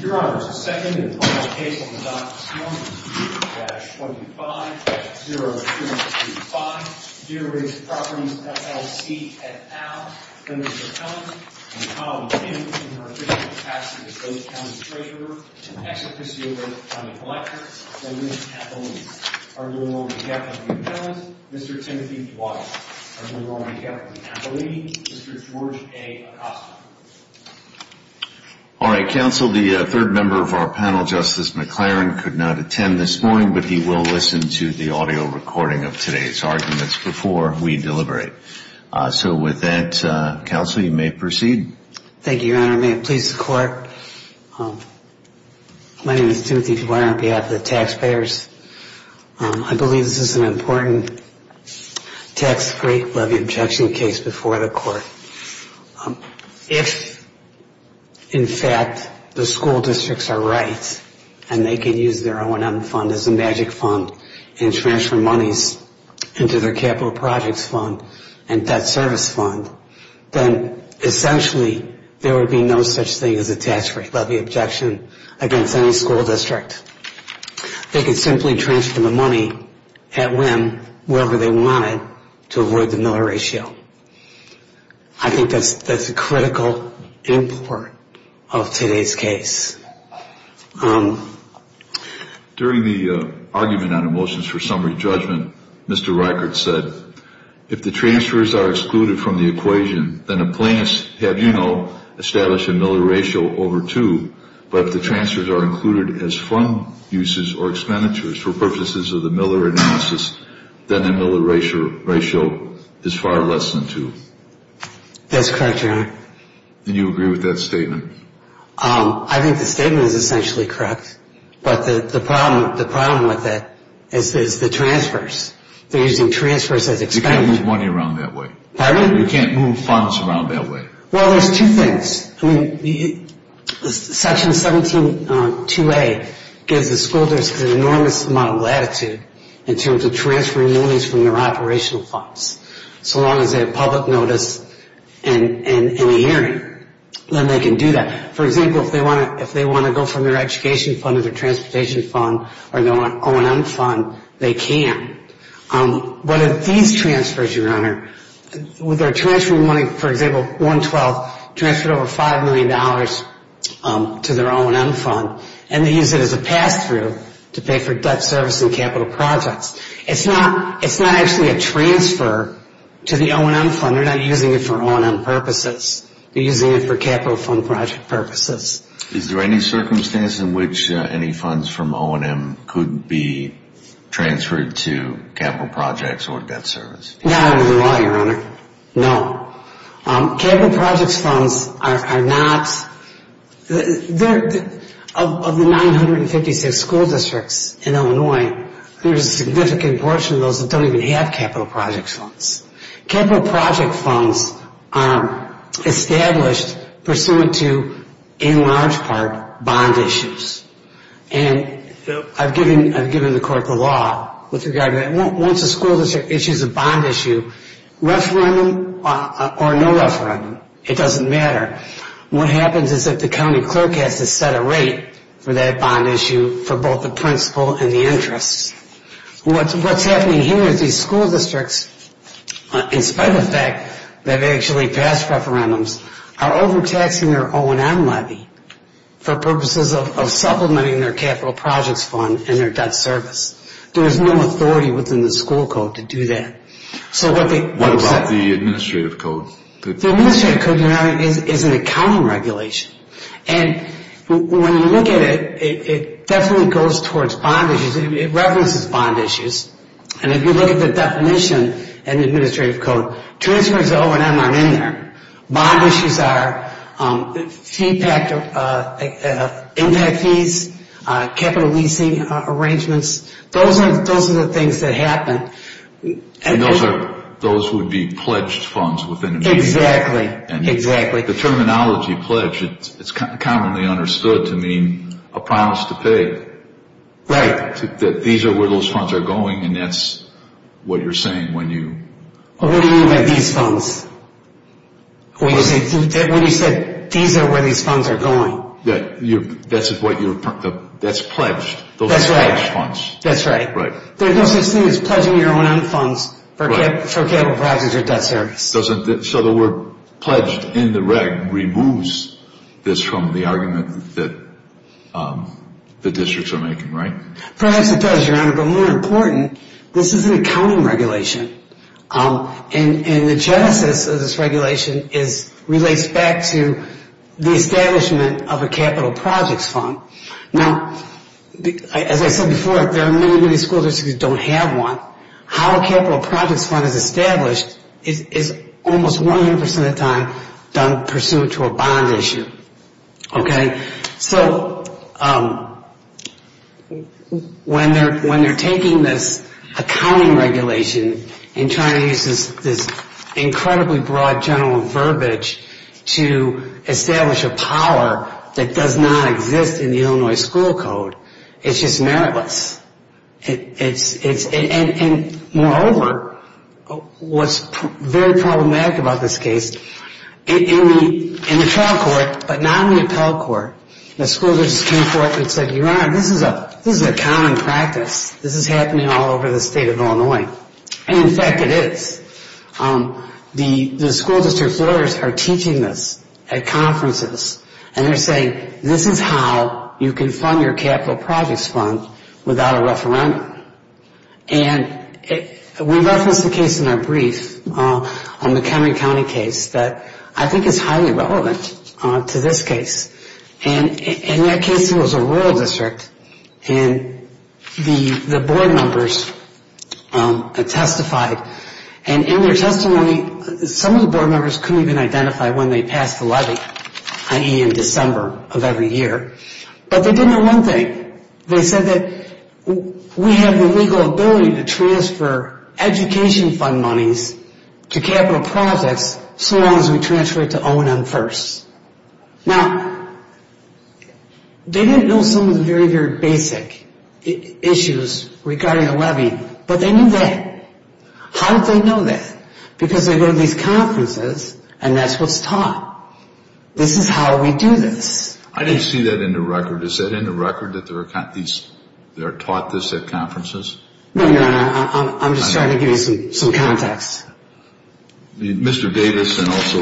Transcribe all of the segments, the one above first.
Your Honors, the second and final case on the docket is number U-25-025, Deer Ridge Properties, LLC, et al, v. Mr. Thomas and Collin Kim, in her official capacity as both county treasurer and executive sealer and the collector, v. Ms. Appellini. Arguing on behalf of the appellant, Mr. Timothy Dwyer. Arguing on behalf of Ms. Appellini, Mr. George A. Acosta. All right, counsel, the third member of our panel, Justice McLaren, could not attend this morning, but he will listen to the audio recording of today's arguments before we deliberate. So with that, counsel, you may proceed. Thank you, Your Honor. May it please the Court, my name is Timothy Dwyer on behalf of the taxpayers. I believe this is an important tax-free levy objection case before the Court. If, in fact, the school districts are right and they can use their O&M fund as a magic fund and transfer monies into their capital projects fund and debt service fund, then essentially there would be no such thing as a tax-free levy objection against any school district. They could simply transfer the money at whim, wherever they wanted, to avoid the Miller Ratio. I think that's a critical import of today's case. During the argument on emotions for summary judgment, Mr. Reichert said, if the transfers are excluded from the equation, then a plaintiff has, you know, established a Miller Ratio over 2. But if the transfers are included as fund uses or expenditures for purposes of the Miller analysis, then the Miller Ratio is far less than 2. That's correct, Your Honor. And you agree with that statement? I think the statement is essentially correct. But the problem with it is the transfers. They're using transfers as expenditures. You can't move money around that way. Pardon me? You can't move funds around that way. Well, there's two things. I mean, Section 172A gives the school districts an enormous amount of latitude in terms of transferring monies from their operational funds. So long as they have public notice and a hearing, then they can do that. For example, if they want to go from their education fund to their transportation fund or their O&M fund, they can. But if these transfers, Your Honor, with their transfer money, for example, 112, transferred over $5 million to their O&M fund, and they use it as a pass-through to pay for debt service and capital projects. It's not actually a transfer to the O&M fund. They're not using it for O&M purposes. They're using it for capital fund project purposes. Is there any circumstance in which any funds from O&M could be transferred to capital projects or debt service? Not under the law, Your Honor. No. Capital projects funds are not – of the 956 school districts in Illinois, there's a significant portion of those that don't even have capital projects funds. Capital project funds are established pursuant to, in large part, bond issues. And I've given the court the law with regard to that. Once a school district issues a bond issue, referendum or no referendum, it doesn't matter. What happens is that the county clerk has to set a rate for that bond issue for both the principal and the interest. What's happening here is these school districts, in spite of the fact that they've actually passed referendums, are overtaxing their O&M levy for purposes of supplementing their capital projects fund and their debt service. There's no authority within the school code to do that. What about the administrative code? The administrative code, Your Honor, is an accounting regulation. And when you look at it, it definitely goes towards bond issues. It references bond issues. And if you look at the definition in the administrative code, transfers to O&M aren't in there. Bond issues are impact fees, capital leasing arrangements. Those are the things that happen. And those would be pledged funds within an agreement. Exactly, exactly. The terminology pledged, it's commonly understood to mean a promise to pay. Right. That these are where those funds are going, and that's what you're saying when you... What do you mean by these funds? When you said these are where these funds are going. That's what you're...that's pledged. That's right. Those are pledged funds. That's right. There's no such thing as pledging your O&M funds for capital projects or debt service. So the word pledged in the reg removes this from the argument that the districts are making, right? Perhaps it does, Your Honor, but more important, this is an accounting regulation. And the genesis of this regulation relates back to the establishment of a capital projects fund. Now, as I said before, there are many, many school districts that don't have one. How a capital projects fund is established is almost 100% of the time done pursuant to a bond issue. Okay. So when they're taking this accounting regulation and trying to use this incredibly broad general verbiage to establish a power that does not exist in the Illinois school code, it's just meritless. And moreover, what's very problematic about this case, in the trial court, but not in the appellate court, the school districts come forth and say, Your Honor, this is a common practice. This is happening all over the state of Illinois. And, in fact, it is. The school district lawyers are teaching this at conferences. And they're saying, This is how you can fund your capital projects fund without a referendum. And we referenced a case in our brief on the Henry County case that I think is highly relevant to this case. And in that case, it was a rural district. And the board members testified. And in their testimony, some of the board members couldn't even identify when they passed the levy, i.e. in December of every year. But they didn't know one thing. They said that we have the legal ability to transfer education fund monies to capital projects so long as we transfer it to O&M first. Now, they didn't know some of the very, very basic issues regarding the levy. But they knew that. How did they know that? Because they go to these conferences, and that's what's taught. This is how we do this. I didn't see that in the record. Is that in the record that there are taught this at conferences? No, Your Honor. I'm just trying to give you some context. Mr. Davis and also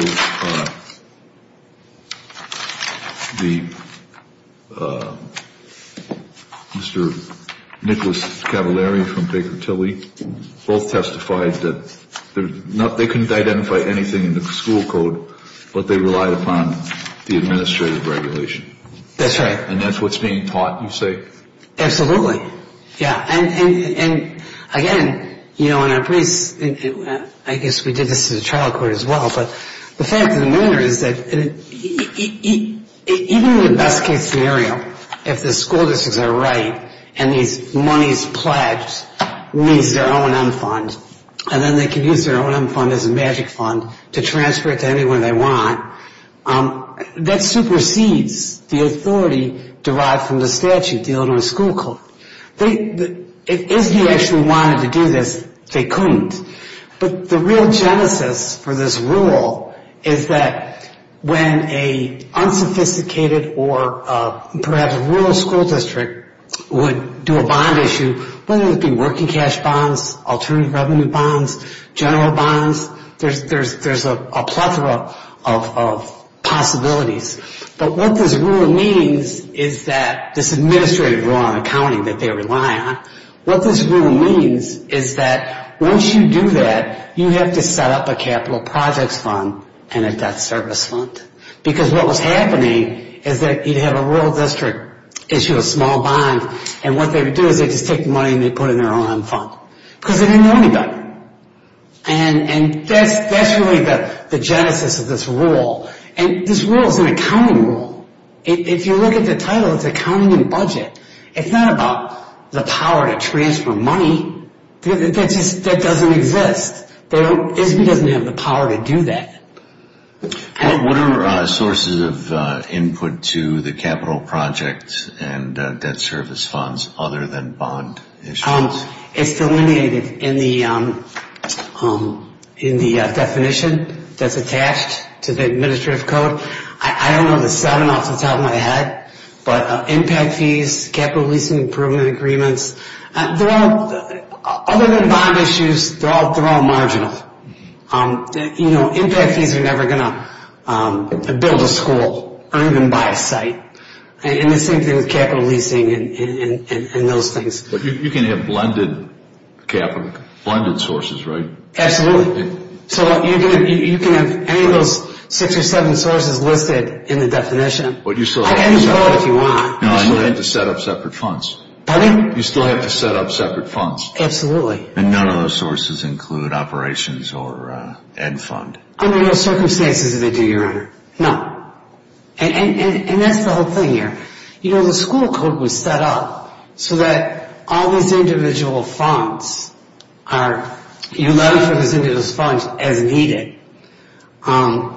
Mr. Nicholas Cavallari from Baker Tilly both testified that they couldn't identify anything in the school code, but they relied upon the administrative regulation. That's right. And that's what's being taught, you say? Absolutely, yeah. And, again, you know, and I guess we did this in the trial court as well, but the fact of the matter is that even in the best-case scenario, if the school districts are right and these monies pledged meet their O&M fund, and then they can use their O&M fund as a magic fund to transfer it to anyone they want, that supersedes the authority derived from the statute, you know, to a school code. If he actually wanted to do this, they couldn't. But the real genesis for this rule is that when an unsophisticated or perhaps a rural school district would do a bond issue, whether it be working cash bonds, alternative revenue bonds, general bonds, there's a plethora of possibilities. But what this rule means is that this administrative rule on accounting that they rely on, what this rule means is that once you do that, you have to set up a capital projects fund and a debt service fund. Because what was happening is that you'd have a rural district issue a small bond, and what they would do is they'd just take the money and they'd put it in their O&M fund. Because they didn't know anybody. And that's really the genesis of this rule. And this rule is an accounting rule. If you look at the title, it's accounting and budget. It's not about the power to transfer money. That doesn't exist. It doesn't have the power to do that. What are sources of input to the capital projects and debt service funds other than bond issues? It's delineated in the definition that's attached to the administrative code. I don't know the seven off the top of my head. But impact fees, capital leasing improvement agreements, other than bond issues, they're all marginal. You know, impact fees are never going to build a school, earn them by sight. And the same thing with capital leasing and those things. But you can have blended capital, blended sources, right? Absolutely. So you can have any of those six or seven sources listed in the definition. I can use both if you want. You still have to set up separate funds. Pardon me? You still have to set up separate funds. Absolutely. And none of those sources include operations or ed fund. Under no circumstances do they do, Your Honor. No. And that's the whole thing here. You know, the school code was set up so that all these individual funds are, you allow for these individual funds as needed. And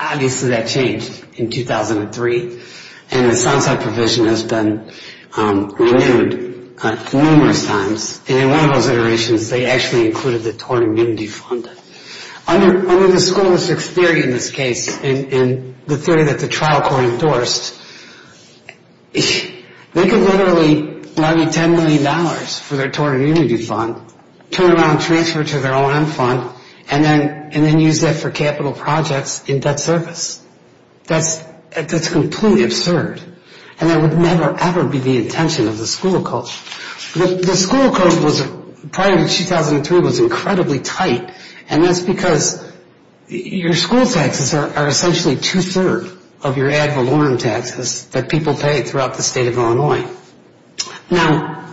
obviously that changed in 2003. And the sunset provision has been renewed numerous times. And in one of those iterations, they actually included the torn immunity fund. Under the school district's theory in this case, in the theory that the trial court endorsed, they can literally lobby $10 million for their torn immunity fund, turn around and transfer it to their OM fund, and then use that for capital projects in debt service. That's completely absurd. And that would never, ever be the intention of the school code. The school code prior to 2003 was incredibly tight, and that's because your school taxes are essentially two-thirds of your ad valorem taxes that people pay throughout the state of Illinois. Now,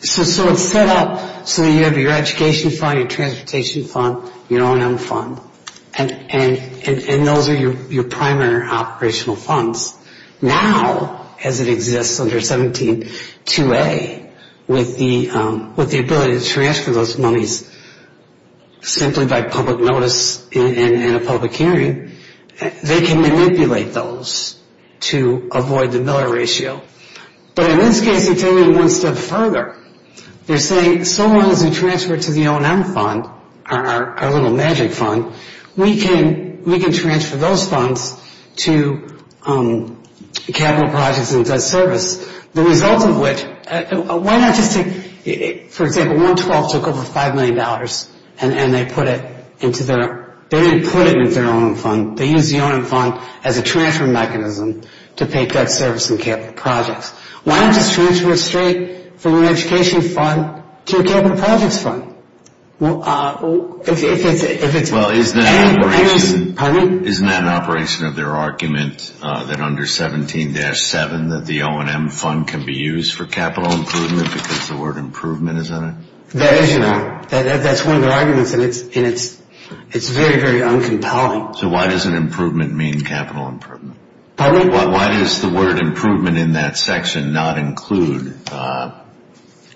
so it's set up so you have your education fund, your transportation fund, your OM fund, and those are your primary operational funds. Now, as it exists under 17-2A, with the ability to transfer those monies simply by public notice and a public hearing, they can manipulate those to avoid the Miller Ratio. But in this case, it's only one step further. They're saying so long as we transfer it to the OM fund, our little magic fund, we can transfer those funds to capital projects and debt service. The result of which, why not just take, for example, 112 took over $5 million, and they put it into their, they didn't put it into their OM fund. They used the OM fund as a transfer mechanism to pay debt service and capital projects. Why not just transfer it straight from an education fund to a capital projects fund? Well, if it's- Well, isn't that an operation- Pardon me? Isn't that an operation of their argument that under 17-7 that the OM fund can be used for capital improvement because the word improvement is in it? That is, you know. That's one of their arguments, and it's very, very uncompelling. So why does an improvement mean capital improvement? Pardon me? Why does the word improvement in that section not include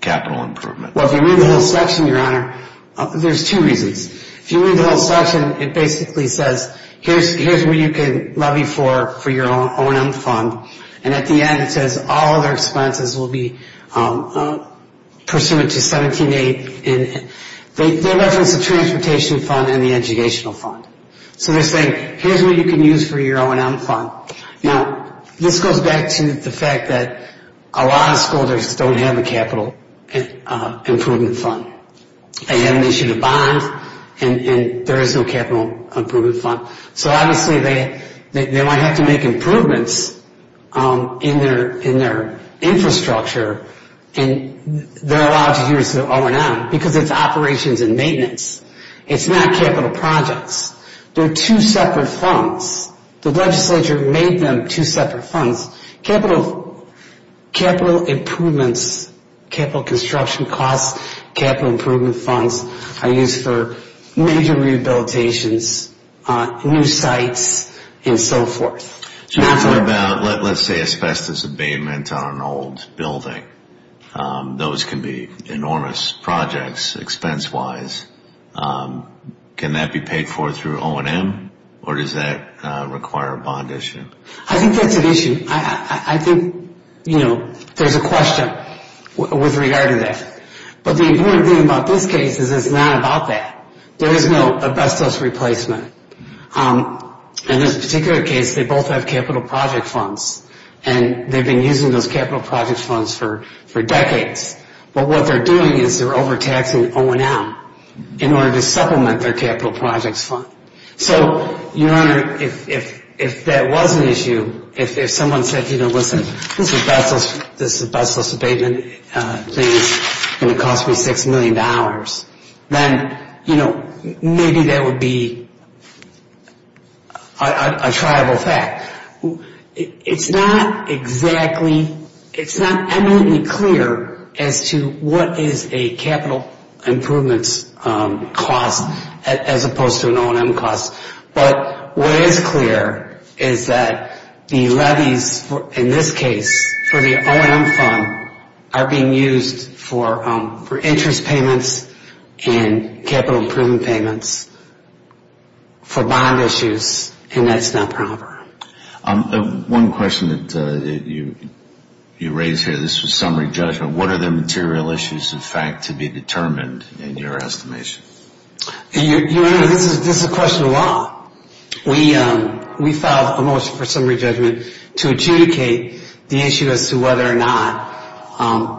capital improvement? Well, if you read the whole section, Your Honor, there's two reasons. If you read the whole section, it basically says here's what you can levy for your OM fund, and at the end it says all other expenses will be pursuant to 17-8, and they reference the transportation fund and the educational fund. So they're saying here's what you can use for your OM fund. Now, this goes back to the fact that a lot of school districts don't have a capital improvement fund. They have an issue to bond, and there is no capital improvement fund. So obviously they might have to make improvements in their infrastructure, and they're allowed to use the OM because it's operations and maintenance. It's not capital projects. They're two separate funds. The legislature made them two separate funds. Capital improvements, capital construction costs, capital improvement funds, are used for major rehabilitations, new sites, and so forth. What about, let's say, asbestos abatement on an old building? Those can be enormous projects expense-wise. Can that be paid for through O&M, or does that require a bond issue? I think that's an issue. I think, you know, there's a question with regard to that. But the important thing about this case is it's not about that. There is no asbestos replacement. In this particular case, they both have capital project funds, and they've been using those capital project funds for decades. But what they're doing is they're overtaxing O&M in order to supplement their capital projects fund. So, Your Honor, if that was an issue, if someone said, you know, listen, this asbestos abatement thing is going to cost me $6 million, then, you know, maybe that would be a triable fact. It's not exactly, it's not eminently clear as to what is a capital improvements cost as opposed to an O&M cost. But what is clear is that the levies in this case for the O&M fund are being used for interest payments and capital improvement payments for bond issues, and that's not proper. One question that you raised here, this was summary judgment. What are the material issues, in fact, to be determined in your estimation? Your Honor, this is a question of law. We filed a motion for summary judgment to adjudicate the issue as to whether or not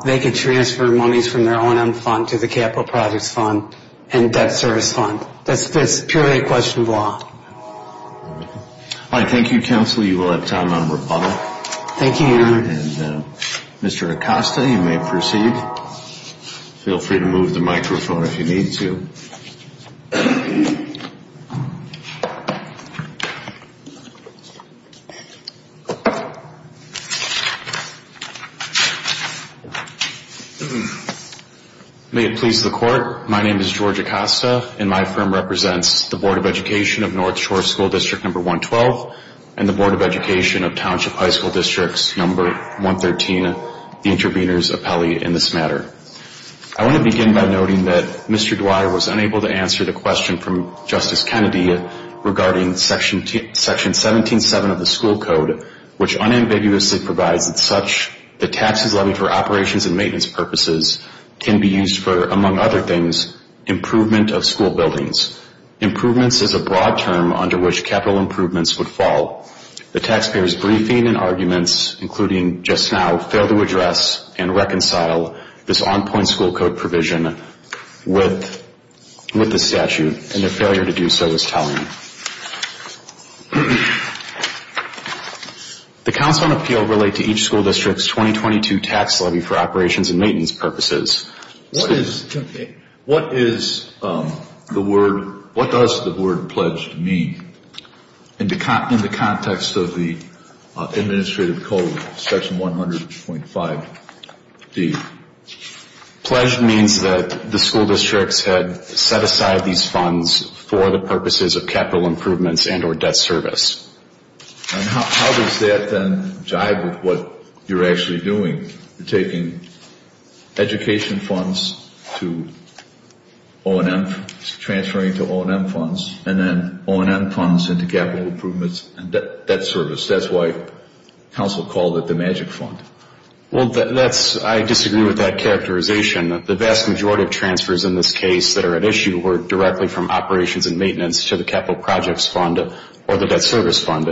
they could transfer monies from their O&M fund to the capital projects fund and debt service fund. That's purely a question of law. All right. Thank you, counsel. You will have time on rebuttal. Thank you, Your Honor. And Mr. Acosta, you may proceed. Feel free to move the microphone if you need to. May it please the Court, my name is George Acosta, and my firm represents the Board of Education of North Shore School District Number 112 and the Board of Education of Township High School Districts Number 113, the intervenors appellee in this matter. I want to begin by noting that Mr. Dwyer was unable to answer the question from Justice Kennedy regarding Section 17-7 of the school code, which unambiguously provides that such the taxes levied for operations and maintenance purposes can be used for, among other things, improvement of school buildings. Improvements is a broad term under which capital improvements would fall. The taxpayers' briefing and arguments, including just now, fail to address and reconcile this on-point school code provision with the statute, and their failure to do so is telling. The counts on appeal relate to each school district's 2022 tax levy for operations and maintenance purposes. What does the word pledged mean in the context of the administrative code, Section 100.5D? Pledged means that the school districts had set aside these funds for the purposes of capital improvements and or debt service. And how does that then jive with what you're actually doing? You're taking education funds to O&M, transferring to O&M funds, and then O&M funds into capital improvements and debt service. That's why counsel called it the magic fund. Well, I disagree with that characterization. The vast majority of transfers in this case that are at issue were directly from operations and maintenance to the capital projects fund or the debt service fund.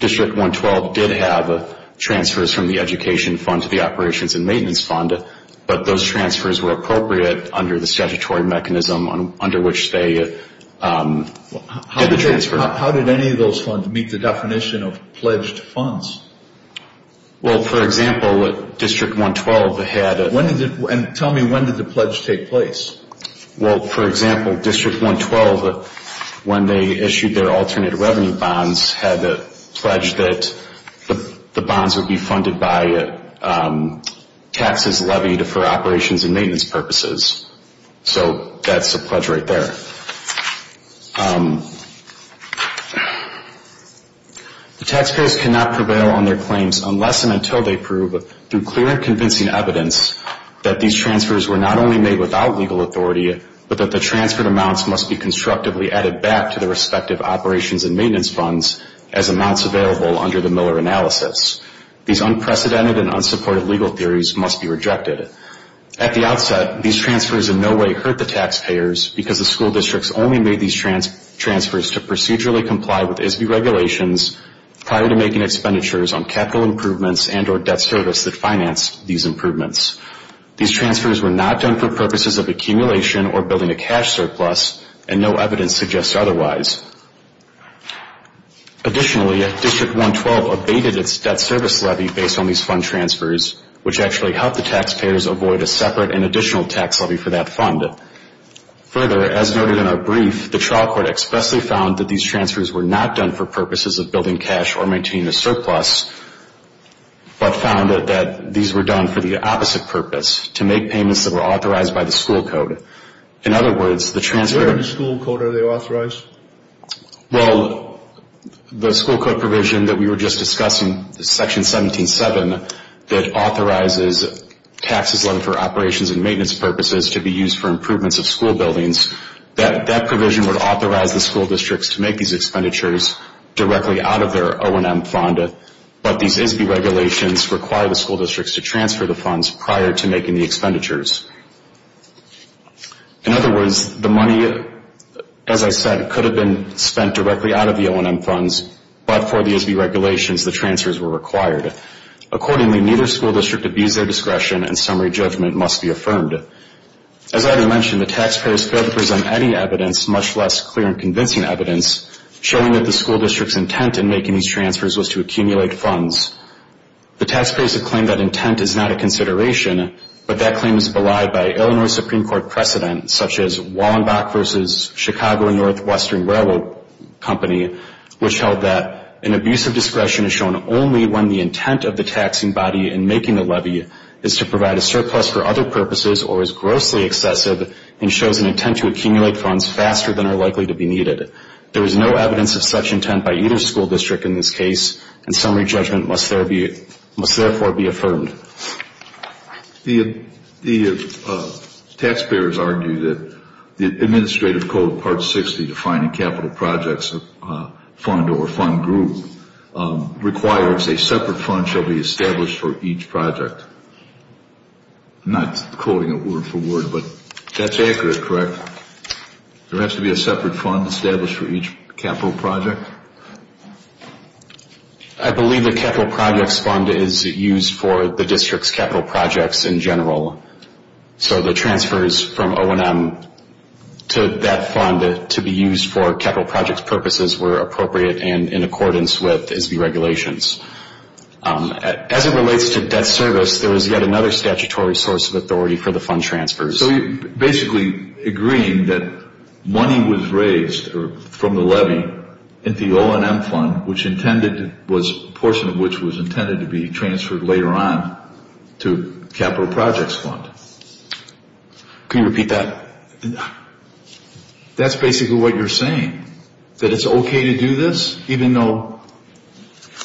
District 112 did have transfers from the education fund to the operations and maintenance fund, but those transfers were appropriate under the statutory mechanism under which they did the transfer. How did any of those funds meet the definition of pledged funds? Well, for example, District 112 had... And tell me, when did the pledge take place? Well, for example, District 112, when they issued their alternate revenue bonds, had the pledge that the bonds would be funded by taxes levied for operations and maintenance purposes. So that's a pledge right there. The taxpayers cannot prevail on their claims unless and until they prove, through clear and convincing evidence, that these transfers were not only made without legal authority, but that the transferred amounts must be constructively added back to the respective operations and maintenance funds as amounts available under the Miller analysis. These unprecedented and unsupported legal theories must be rejected. At the outset, these transfers in no way hurt the taxpayers, because the school districts only made these transfers to procedurally comply with ISB regulations prior to making expenditures on capital improvements and or debt service that financed these improvements. These transfers were not done for purposes of accumulation or building a cash surplus, and no evidence suggests otherwise. Additionally, District 112 abated its debt service levy based on these fund transfers, which actually helped the taxpayers avoid a separate and additional tax levy for that fund. Further, as noted in our brief, the trial court expressly found that these transfers were not done for purposes of building cash or maintaining a surplus, but found that these were done for the opposite purpose, to make payments that were authorized by the school code. In other words, the transfer- Where in the school code are they authorized? Well, the school code provision that we were just discussing, Section 17-7, that authorizes taxes levied for operations and maintenance purposes to be used for improvements of school buildings, that provision would authorize the school districts to make these expenditures directly out of their O&M fund, but these ISB regulations require the school districts to transfer the funds prior to making the expenditures. In other words, the money, as I said, could have been spent directly out of the O&M funds, but for the ISB regulations, the transfers were required. Accordingly, neither school district abused their discretion, and summary judgment must be affirmed. As I mentioned, the taxpayers failed to present any evidence, much less clear and convincing evidence, showing that the school district's intent in making these transfers was to accumulate funds. The taxpayers have claimed that intent is not a consideration, but that claim is belied by Illinois Supreme Court precedent, such as Wallenbach v. Chicago and Northwestern Railroad Company, which held that an abuse of discretion is shown only when the intent of the taxing body in making the levy is to provide a surplus for other purposes or is grossly excessive and shows an intent to accumulate funds faster than are likely to be needed. There is no evidence of such intent by either school district in this case, and summary judgment must therefore be affirmed. The taxpayers argue that the Administrative Code, Part 60, defining capital projects fund or fund group, requires a separate fund shall be established for each project. I'm not quoting it word for word, but that's accurate, correct? There has to be a separate fund established for each capital project? I believe the capital projects fund is used for the district's capital projects in general. So the transfers from O&M to that fund to be used for capital projects purposes were appropriate and in accordance with ISB regulations. As it relates to debt service, there was yet another statutory source of authority for the fund transfers. So you're basically agreeing that money was raised from the levy at the O&M fund, a portion of which was intended to be transferred later on to capital projects fund. Can you repeat that? That's basically what you're saying, that it's okay to do this, even though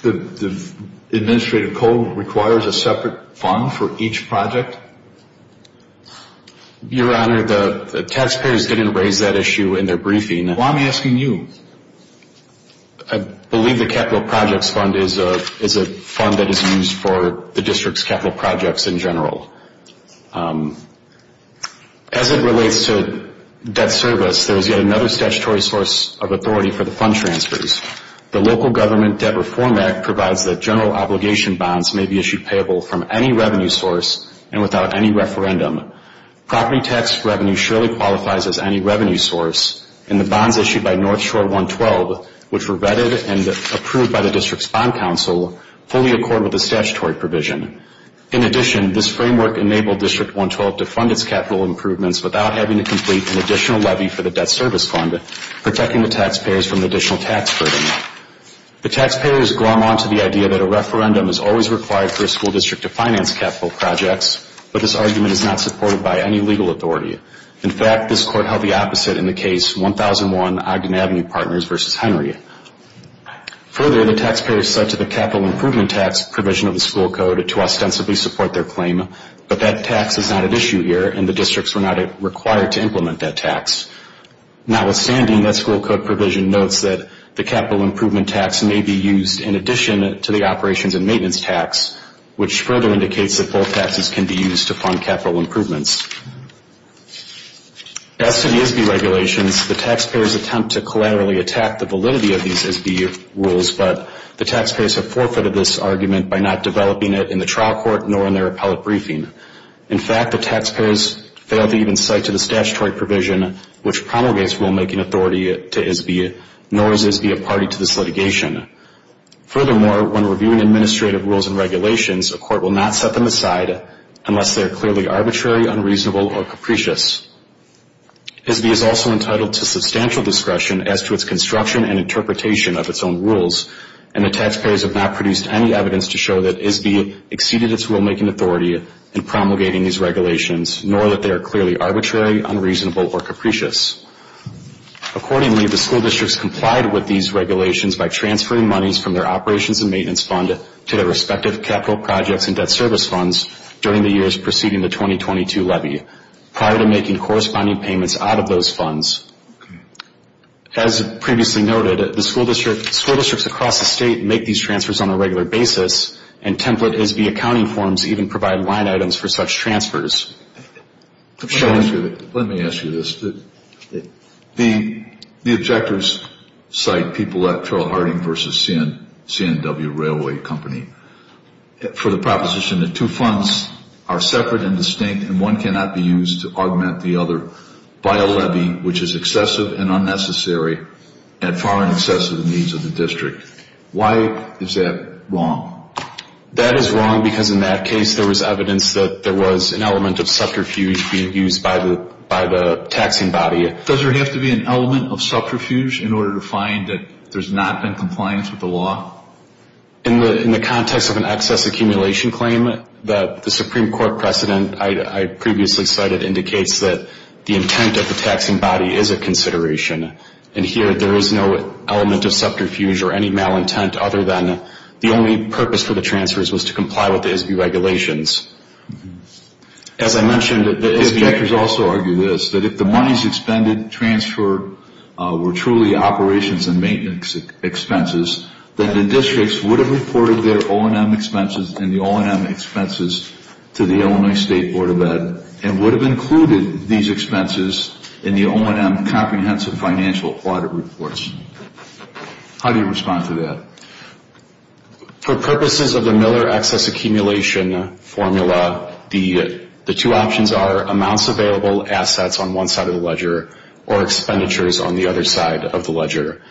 the Administrative Code requires a separate fund for each project? Your Honor, the taxpayers didn't raise that issue in their briefing. Well, I'm asking you. I believe the capital projects fund is a fund that is used for the district's capital projects in general. As it relates to debt service, there was yet another statutory source of authority for the fund transfers. The Local Government Debt Reform Act provides that general obligation bonds may be issued payable from any revenue source and without any referendum. Property tax revenue surely qualifies as any revenue source, and the bonds issued by North Shore 112, which were vetted and approved by the district's bond council, fully accord with the statutory provision. In addition, this framework enabled District 112 to fund its capital improvements without having to complete an additional levy for the debt service fund, protecting the taxpayers from additional tax burden. The taxpayers glom on to the idea that a referendum is always required for a school district to finance capital projects, but this argument is not supported by any legal authority. In fact, this Court held the opposite in the case 1001 Ogden Avenue Partners v. Henry. Further, the taxpayers said to the capital improvement tax provision of the school code to ostensibly support their claim, but that tax is not at issue here and the districts were not required to implement that tax. Notwithstanding, that school code provision notes that the capital improvement tax may be used in addition to the to fund capital improvements. As to the ISB regulations, the taxpayers attempt to collaterally attack the validity of these ISB rules, but the taxpayers have forfeited this argument by not developing it in the trial court nor in their appellate briefing. In fact, the taxpayers failed to even cite to the statutory provision, which promulgates rulemaking authority to ISB, nor is ISB a party to this litigation. Furthermore, when reviewing administrative rules and regulations, a court will not set them aside unless they are clearly arbitrary, unreasonable, or capricious. ISB is also entitled to substantial discretion as to its construction and interpretation of its own rules, and the taxpayers have not produced any evidence to show that ISB exceeded its rulemaking authority in promulgating these regulations, nor that they are clearly arbitrary, unreasonable, or capricious. Accordingly, the school districts complied with these regulations by transferring monies from their operations and maintenance fund to their respective capital projects and debt service funds during the years preceding the 2022 levy, prior to making corresponding payments out of those funds. As previously noted, school districts across the state make these transfers on a regular basis, and template ISB accounting forms even provide line items for such transfers. Let me ask you this. The objectors cite people at Carroll Harding v. CNW Railway Company for the proposition that two funds are separate and distinct and one cannot be used to augment the other by a levy which is excessive and unnecessary and far in excess of the needs of the district. Why is that wrong? That is wrong because in that case there was evidence that there was an element of subterfuge being used by the taxing body. Does there have to be an element of subterfuge in order to find that there's not been compliance with the law? In the context of an excess accumulation claim, the Supreme Court precedent I previously cited indicates that the intent of the taxing body is a consideration, and here there is no element of subterfuge or any malintent other than the only purpose for the transfers was to comply with the ISB regulations. As I mentioned, the objectors also argue this, that if the monies expended and transferred were truly operations and maintenance expenses, then the districts would have reported their O&M expenses and the O&M expenses to the Illinois State Board of Ed and would have included these expenses in the O&M comprehensive financial audit reports. How do you respond to that? For purposes of the Miller excess accumulation formula, the two options are amounts available, assets on one side of the ledger, or expenditures on the other side of the ledger.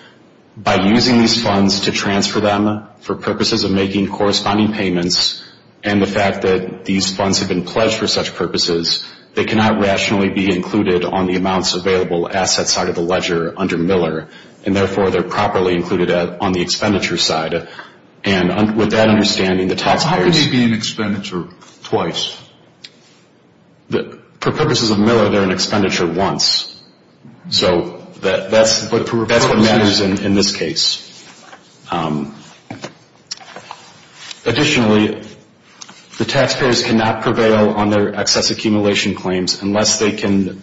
By using these funds to transfer them for purposes of making corresponding payments and the fact that these funds have been pledged for such purposes, they cannot rationally be included on the amounts available asset side of the ledger under Miller, and therefore they're properly included on the expenditure side. And with that understanding, the taxpayers How can they be in expenditure twice? For purposes of Miller, they're in expenditure once. So that's what matters in this case. Additionally, the taxpayers cannot prevail on their excess accumulation claims unless they can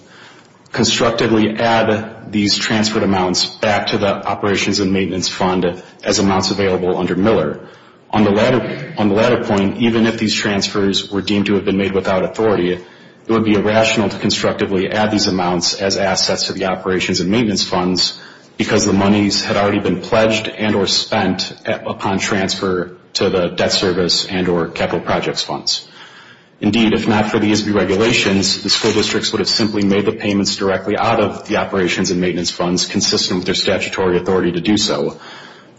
constructively add these transferred amounts back to the operations and maintenance fund as amounts available under Miller. On the latter point, even if these transfers were deemed to have been made without authority, it would be irrational to constructively add these amounts as assets to the operations and maintenance funds because the monies had already been pledged and or spent upon transfer to the debt service and or capital projects funds. Indeed, if not for these deregulations, the school districts would have simply made the payments directly out of the operations and maintenance funds consistent with their statutory authority to do so.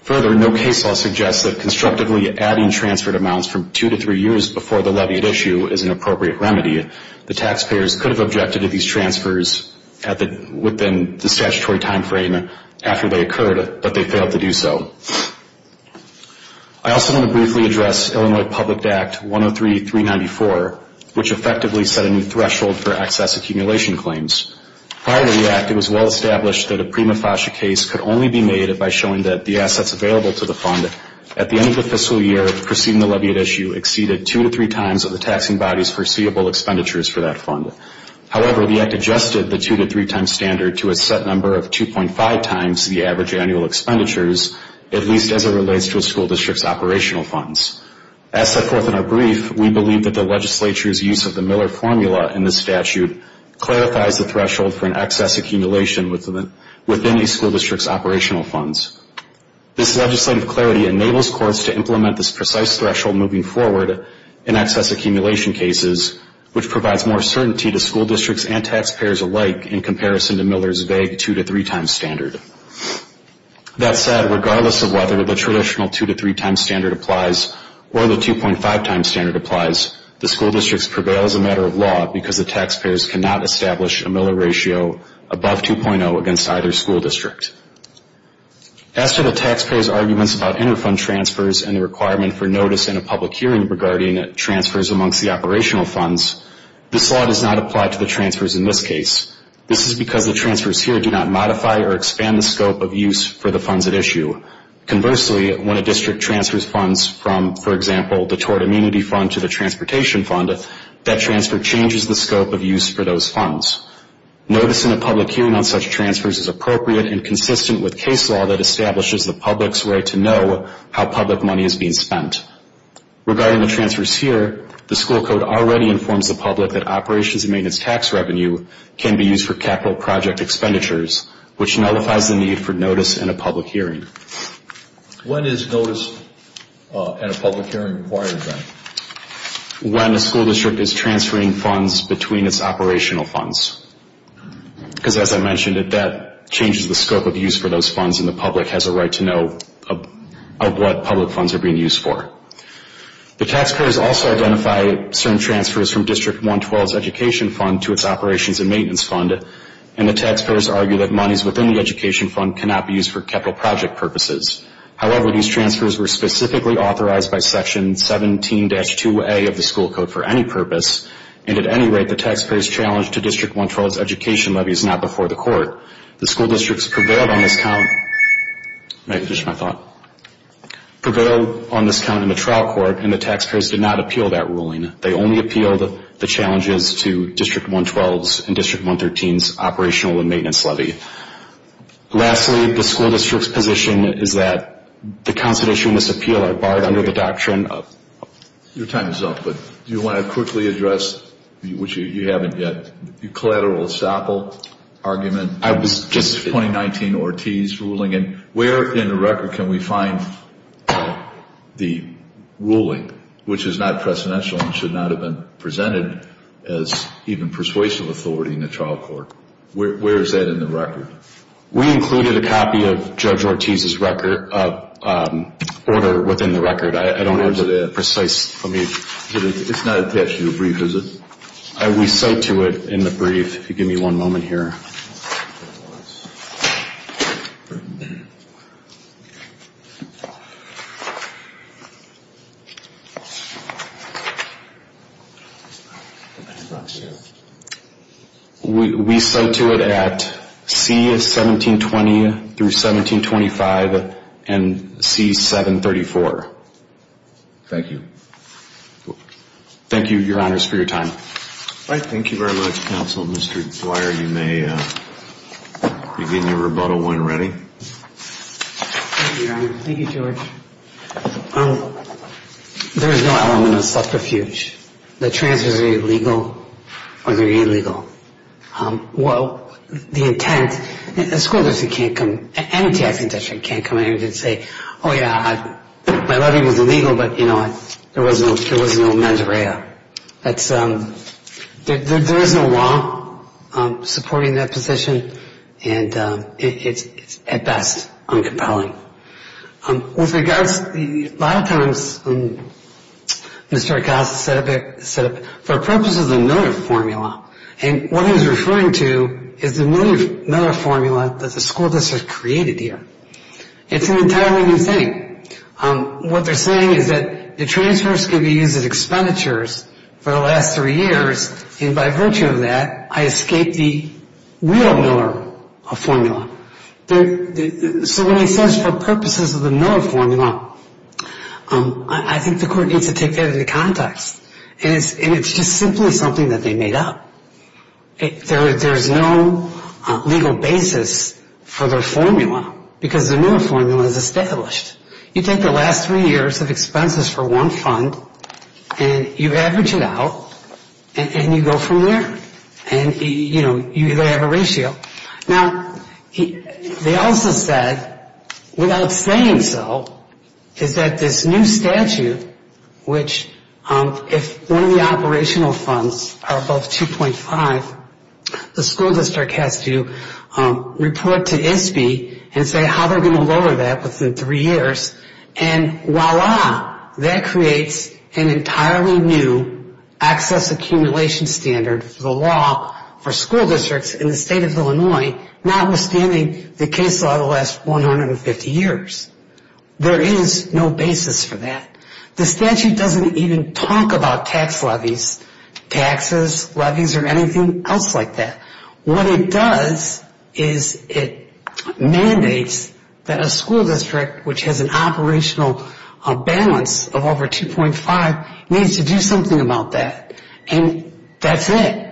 Further, no case law suggests that constructively adding transferred amounts from two to three years before the levied issue is an appropriate remedy. The taxpayers could have objected to these transfers within the statutory timeframe after they occurred, but they failed to do so. I also want to briefly address Illinois Public Act 103-394, which effectively set a new threshold for excess accumulation claims. Prior to the act, it was well established that a prima facie case could only be made by showing that the assets available to the fund at the end of the fiscal year preceding the levied issue exceeded two to three times of the taxing body's foreseeable expenditures for that fund. However, the act adjusted the two to three times standard to a set number of 2.5 times the average annual expenditures, at least as it relates to a school district's operational funds. As set forth in our brief, we believe that the legislature's use of the Miller formula in this statute clarifies the threshold for an excess accumulation within the school district's operational funds. This legislative clarity enables courts to implement this precise threshold moving forward in excess accumulation cases, which provides more certainty to school districts and taxpayers alike in comparison to Miller's vague two to three times standard. That said, regardless of whether the traditional two to three times standard applies or the 2.5 times standard applies, the school districts prevail as a matter of law because the taxpayers cannot establish a Miller ratio above 2.0 against either school district. As to the taxpayers' arguments about inter-fund transfers and the requirement for notice in a public hearing regarding transfers amongst the operational funds, this law does not apply to the transfers in this case. This is because the transfers here do not modify or expand the scope of use for the funds at issue. Conversely, when a district transfers funds from, for example, the Tort Immunity Fund to the Transportation Fund, that transfer changes the scope of use for those funds. Notice in a public hearing on such transfers is appropriate and consistent with case law that establishes the public's right to know how public money is being spent. Regarding the transfers here, the school code already informs the public that operations and maintenance tax revenue can be used for capital project expenditures, which nullifies the need for notice in a public hearing. When is notice in a public hearing required, then? When a school district is transferring funds between its operational funds because, as I mentioned, that changes the scope of use for those funds and the public has a right to know of what public funds are being used for. The taxpayers also identify certain transfers from District 112's education fund to its operations and maintenance fund, and the taxpayers argue that monies within the education fund cannot be used for capital project purposes. However, these transfers were specifically authorized by Section 17-2A of the school code for any purpose, and at any rate, the taxpayers' challenge to District 112's education levy is not before the court. The school districts prevailed on this count in the trial court, and the taxpayers did not appeal that ruling. They only appealed the challenges to District 112's and District 113's operational and maintenance levy. Lastly, the school district's position is that the constitution must appeal, barred under the doctrine of... Your time is up, but do you want to quickly address, which you haven't yet, the collateral estoppel argument in the 2019 Ortiz ruling, and where in the record can we find the ruling which is not precedential and should not have been presented as even persuasive authority in the trial court? Where is that in the record? We included a copy of Judge Ortiz's order within the record. I don't have the precise... It's not attached to your brief, is it? We cite to it in the brief. Give me one moment here. We cite to it at C1720-1725 and C734. Thank you. Thank you, Your Honors, for your time. Thank you very much, Counsel. Mr. Dwyer, you may begin your rebuttal when ready. Thank you, Your Honor. Thank you, George. There is no element of subterfuge. The transfers are illegal or they're illegal. Well, the intent... Oh, yeah, my levy was illegal, but there was no mens rea. There is no law supporting that position, and it's at best uncompelling. A lot of times, Mr. Acosta said, for purposes of the Miller formula, and what he was referring to is the Miller formula that the school district created here. It's an entirely new thing. What they're saying is that the transfers could be used as expenditures for the last three years, and by virtue of that, I escape the real Miller formula. So when he says, for purposes of the Miller formula, I think the court needs to take that into context. And it's just simply something that they made up. There's no legal basis for their formula, because the Miller formula is established. You take the last three years of expenses for one fund, and you average it out, and you go from there. And, you know, they have a ratio. Now, they also said, without saying so, is that this new statute, which if one of the operational funds are above 2.5, the school district has to report to ISBE and say how they're going to lower that within three years. And voila, that creates an entirely new access accumulation standard for the law for school districts in the state of Illinois, notwithstanding the case law of the last 150 years. There is no basis for that. The statute doesn't even talk about tax levies, taxes, levies, or anything else like that. What it does is it mandates that a school district, which has an operational balance of over 2.5, needs to do something about that. And that's it.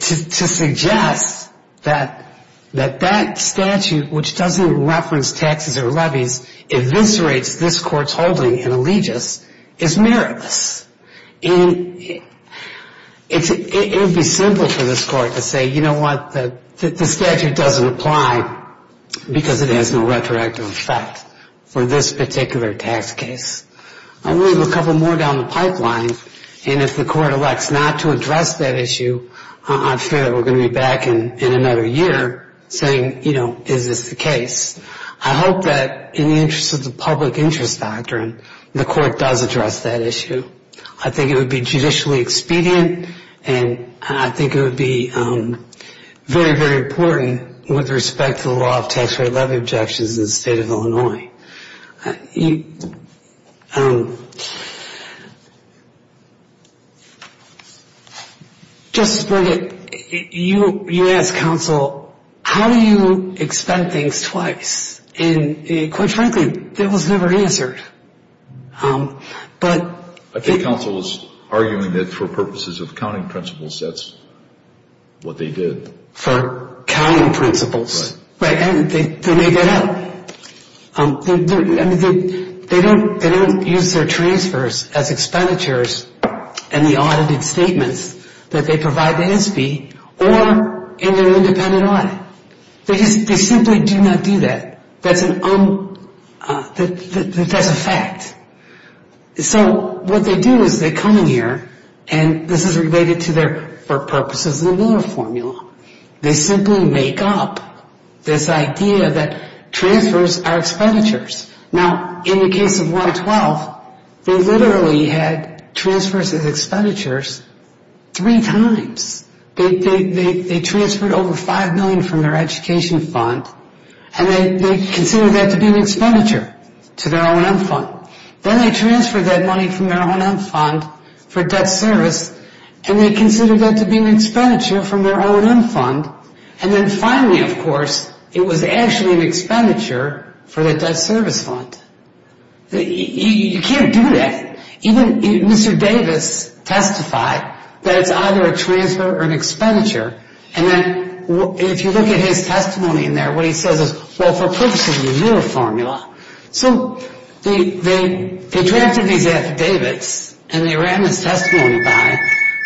To suggest that that statute, which doesn't reference taxes or levies, eviscerates this court's holding in allegiance is meritless. It would be simple for this court to say, you know what, the statute doesn't apply because it has no retroactive effect for this particular tax case. We have a couple more down the pipeline, and if the court elects not to address that issue, I fear that we're going to be back in another year saying, you know, is this the case? I hope that in the interest of the public interest doctrine, the court does address that issue. I think it would be judicially expedient, and I think it would be very, very important with respect to the law of tax rate levy objections in the state of Illinois. Justice Breyer, you asked counsel, how do you expend things twice? And quite frankly, that was never answered. I think counsel was arguing that for purposes of counting principles, that's what they did. For counting principles. Right, and they make that up. They don't use their transfers as expenditures in the audited statements that they provide to NSBE or in their independent audit. They simply do not do that. That's a fact. So what they do is they come in here, and this is related to their for purposes of the Miller formula. They simply make up this idea that transfers are expenditures. Now, in the case of 112, they literally had transfers as expenditures three times. They transferred over $5 million from their education fund, and they considered that to be an expenditure to their O&M fund. Then they transferred that money from their O&M fund for debt service, and they considered that to be an expenditure from their O&M fund. And then finally, of course, it was actually an expenditure for the debt service fund. You can't do that. Even Mr. Davis testified that it's either a transfer or an expenditure. And then if you look at his testimony in there, what he says is, well, for purposes of the Miller formula. So they drafted these affidavits, and they ran his testimony by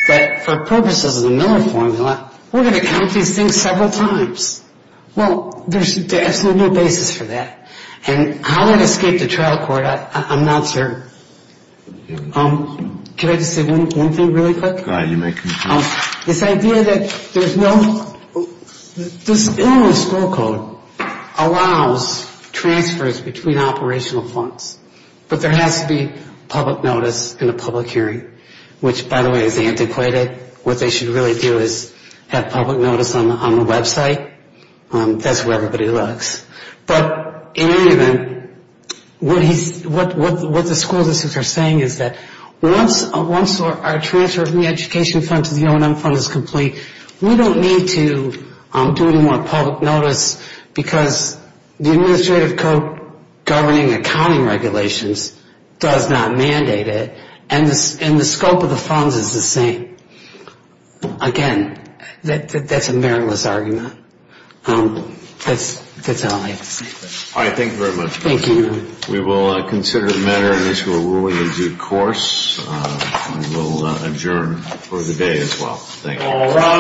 that for purposes of the Miller formula, we're going to count these things several times. Well, there's absolutely no basis for that. And how that escaped the trial court, I'm not certain. Can I just say one thing really quick? This idea that there's no, this Illinois school code allows transfers between operational funds, but there has to be public notice in a public hearing, which, by the way, is antiquated. What they should really do is have public notice on the website. That's where everybody looks. But in any event, what the school districts are saying is that once our transfer of the education fund to the O&M fund is complete, we don't need to do any more public notice because the administrative code governing accounting regulations does not mandate it, and the scope of the funds is the same. Again, that's a meriless argument. That's all I have to say.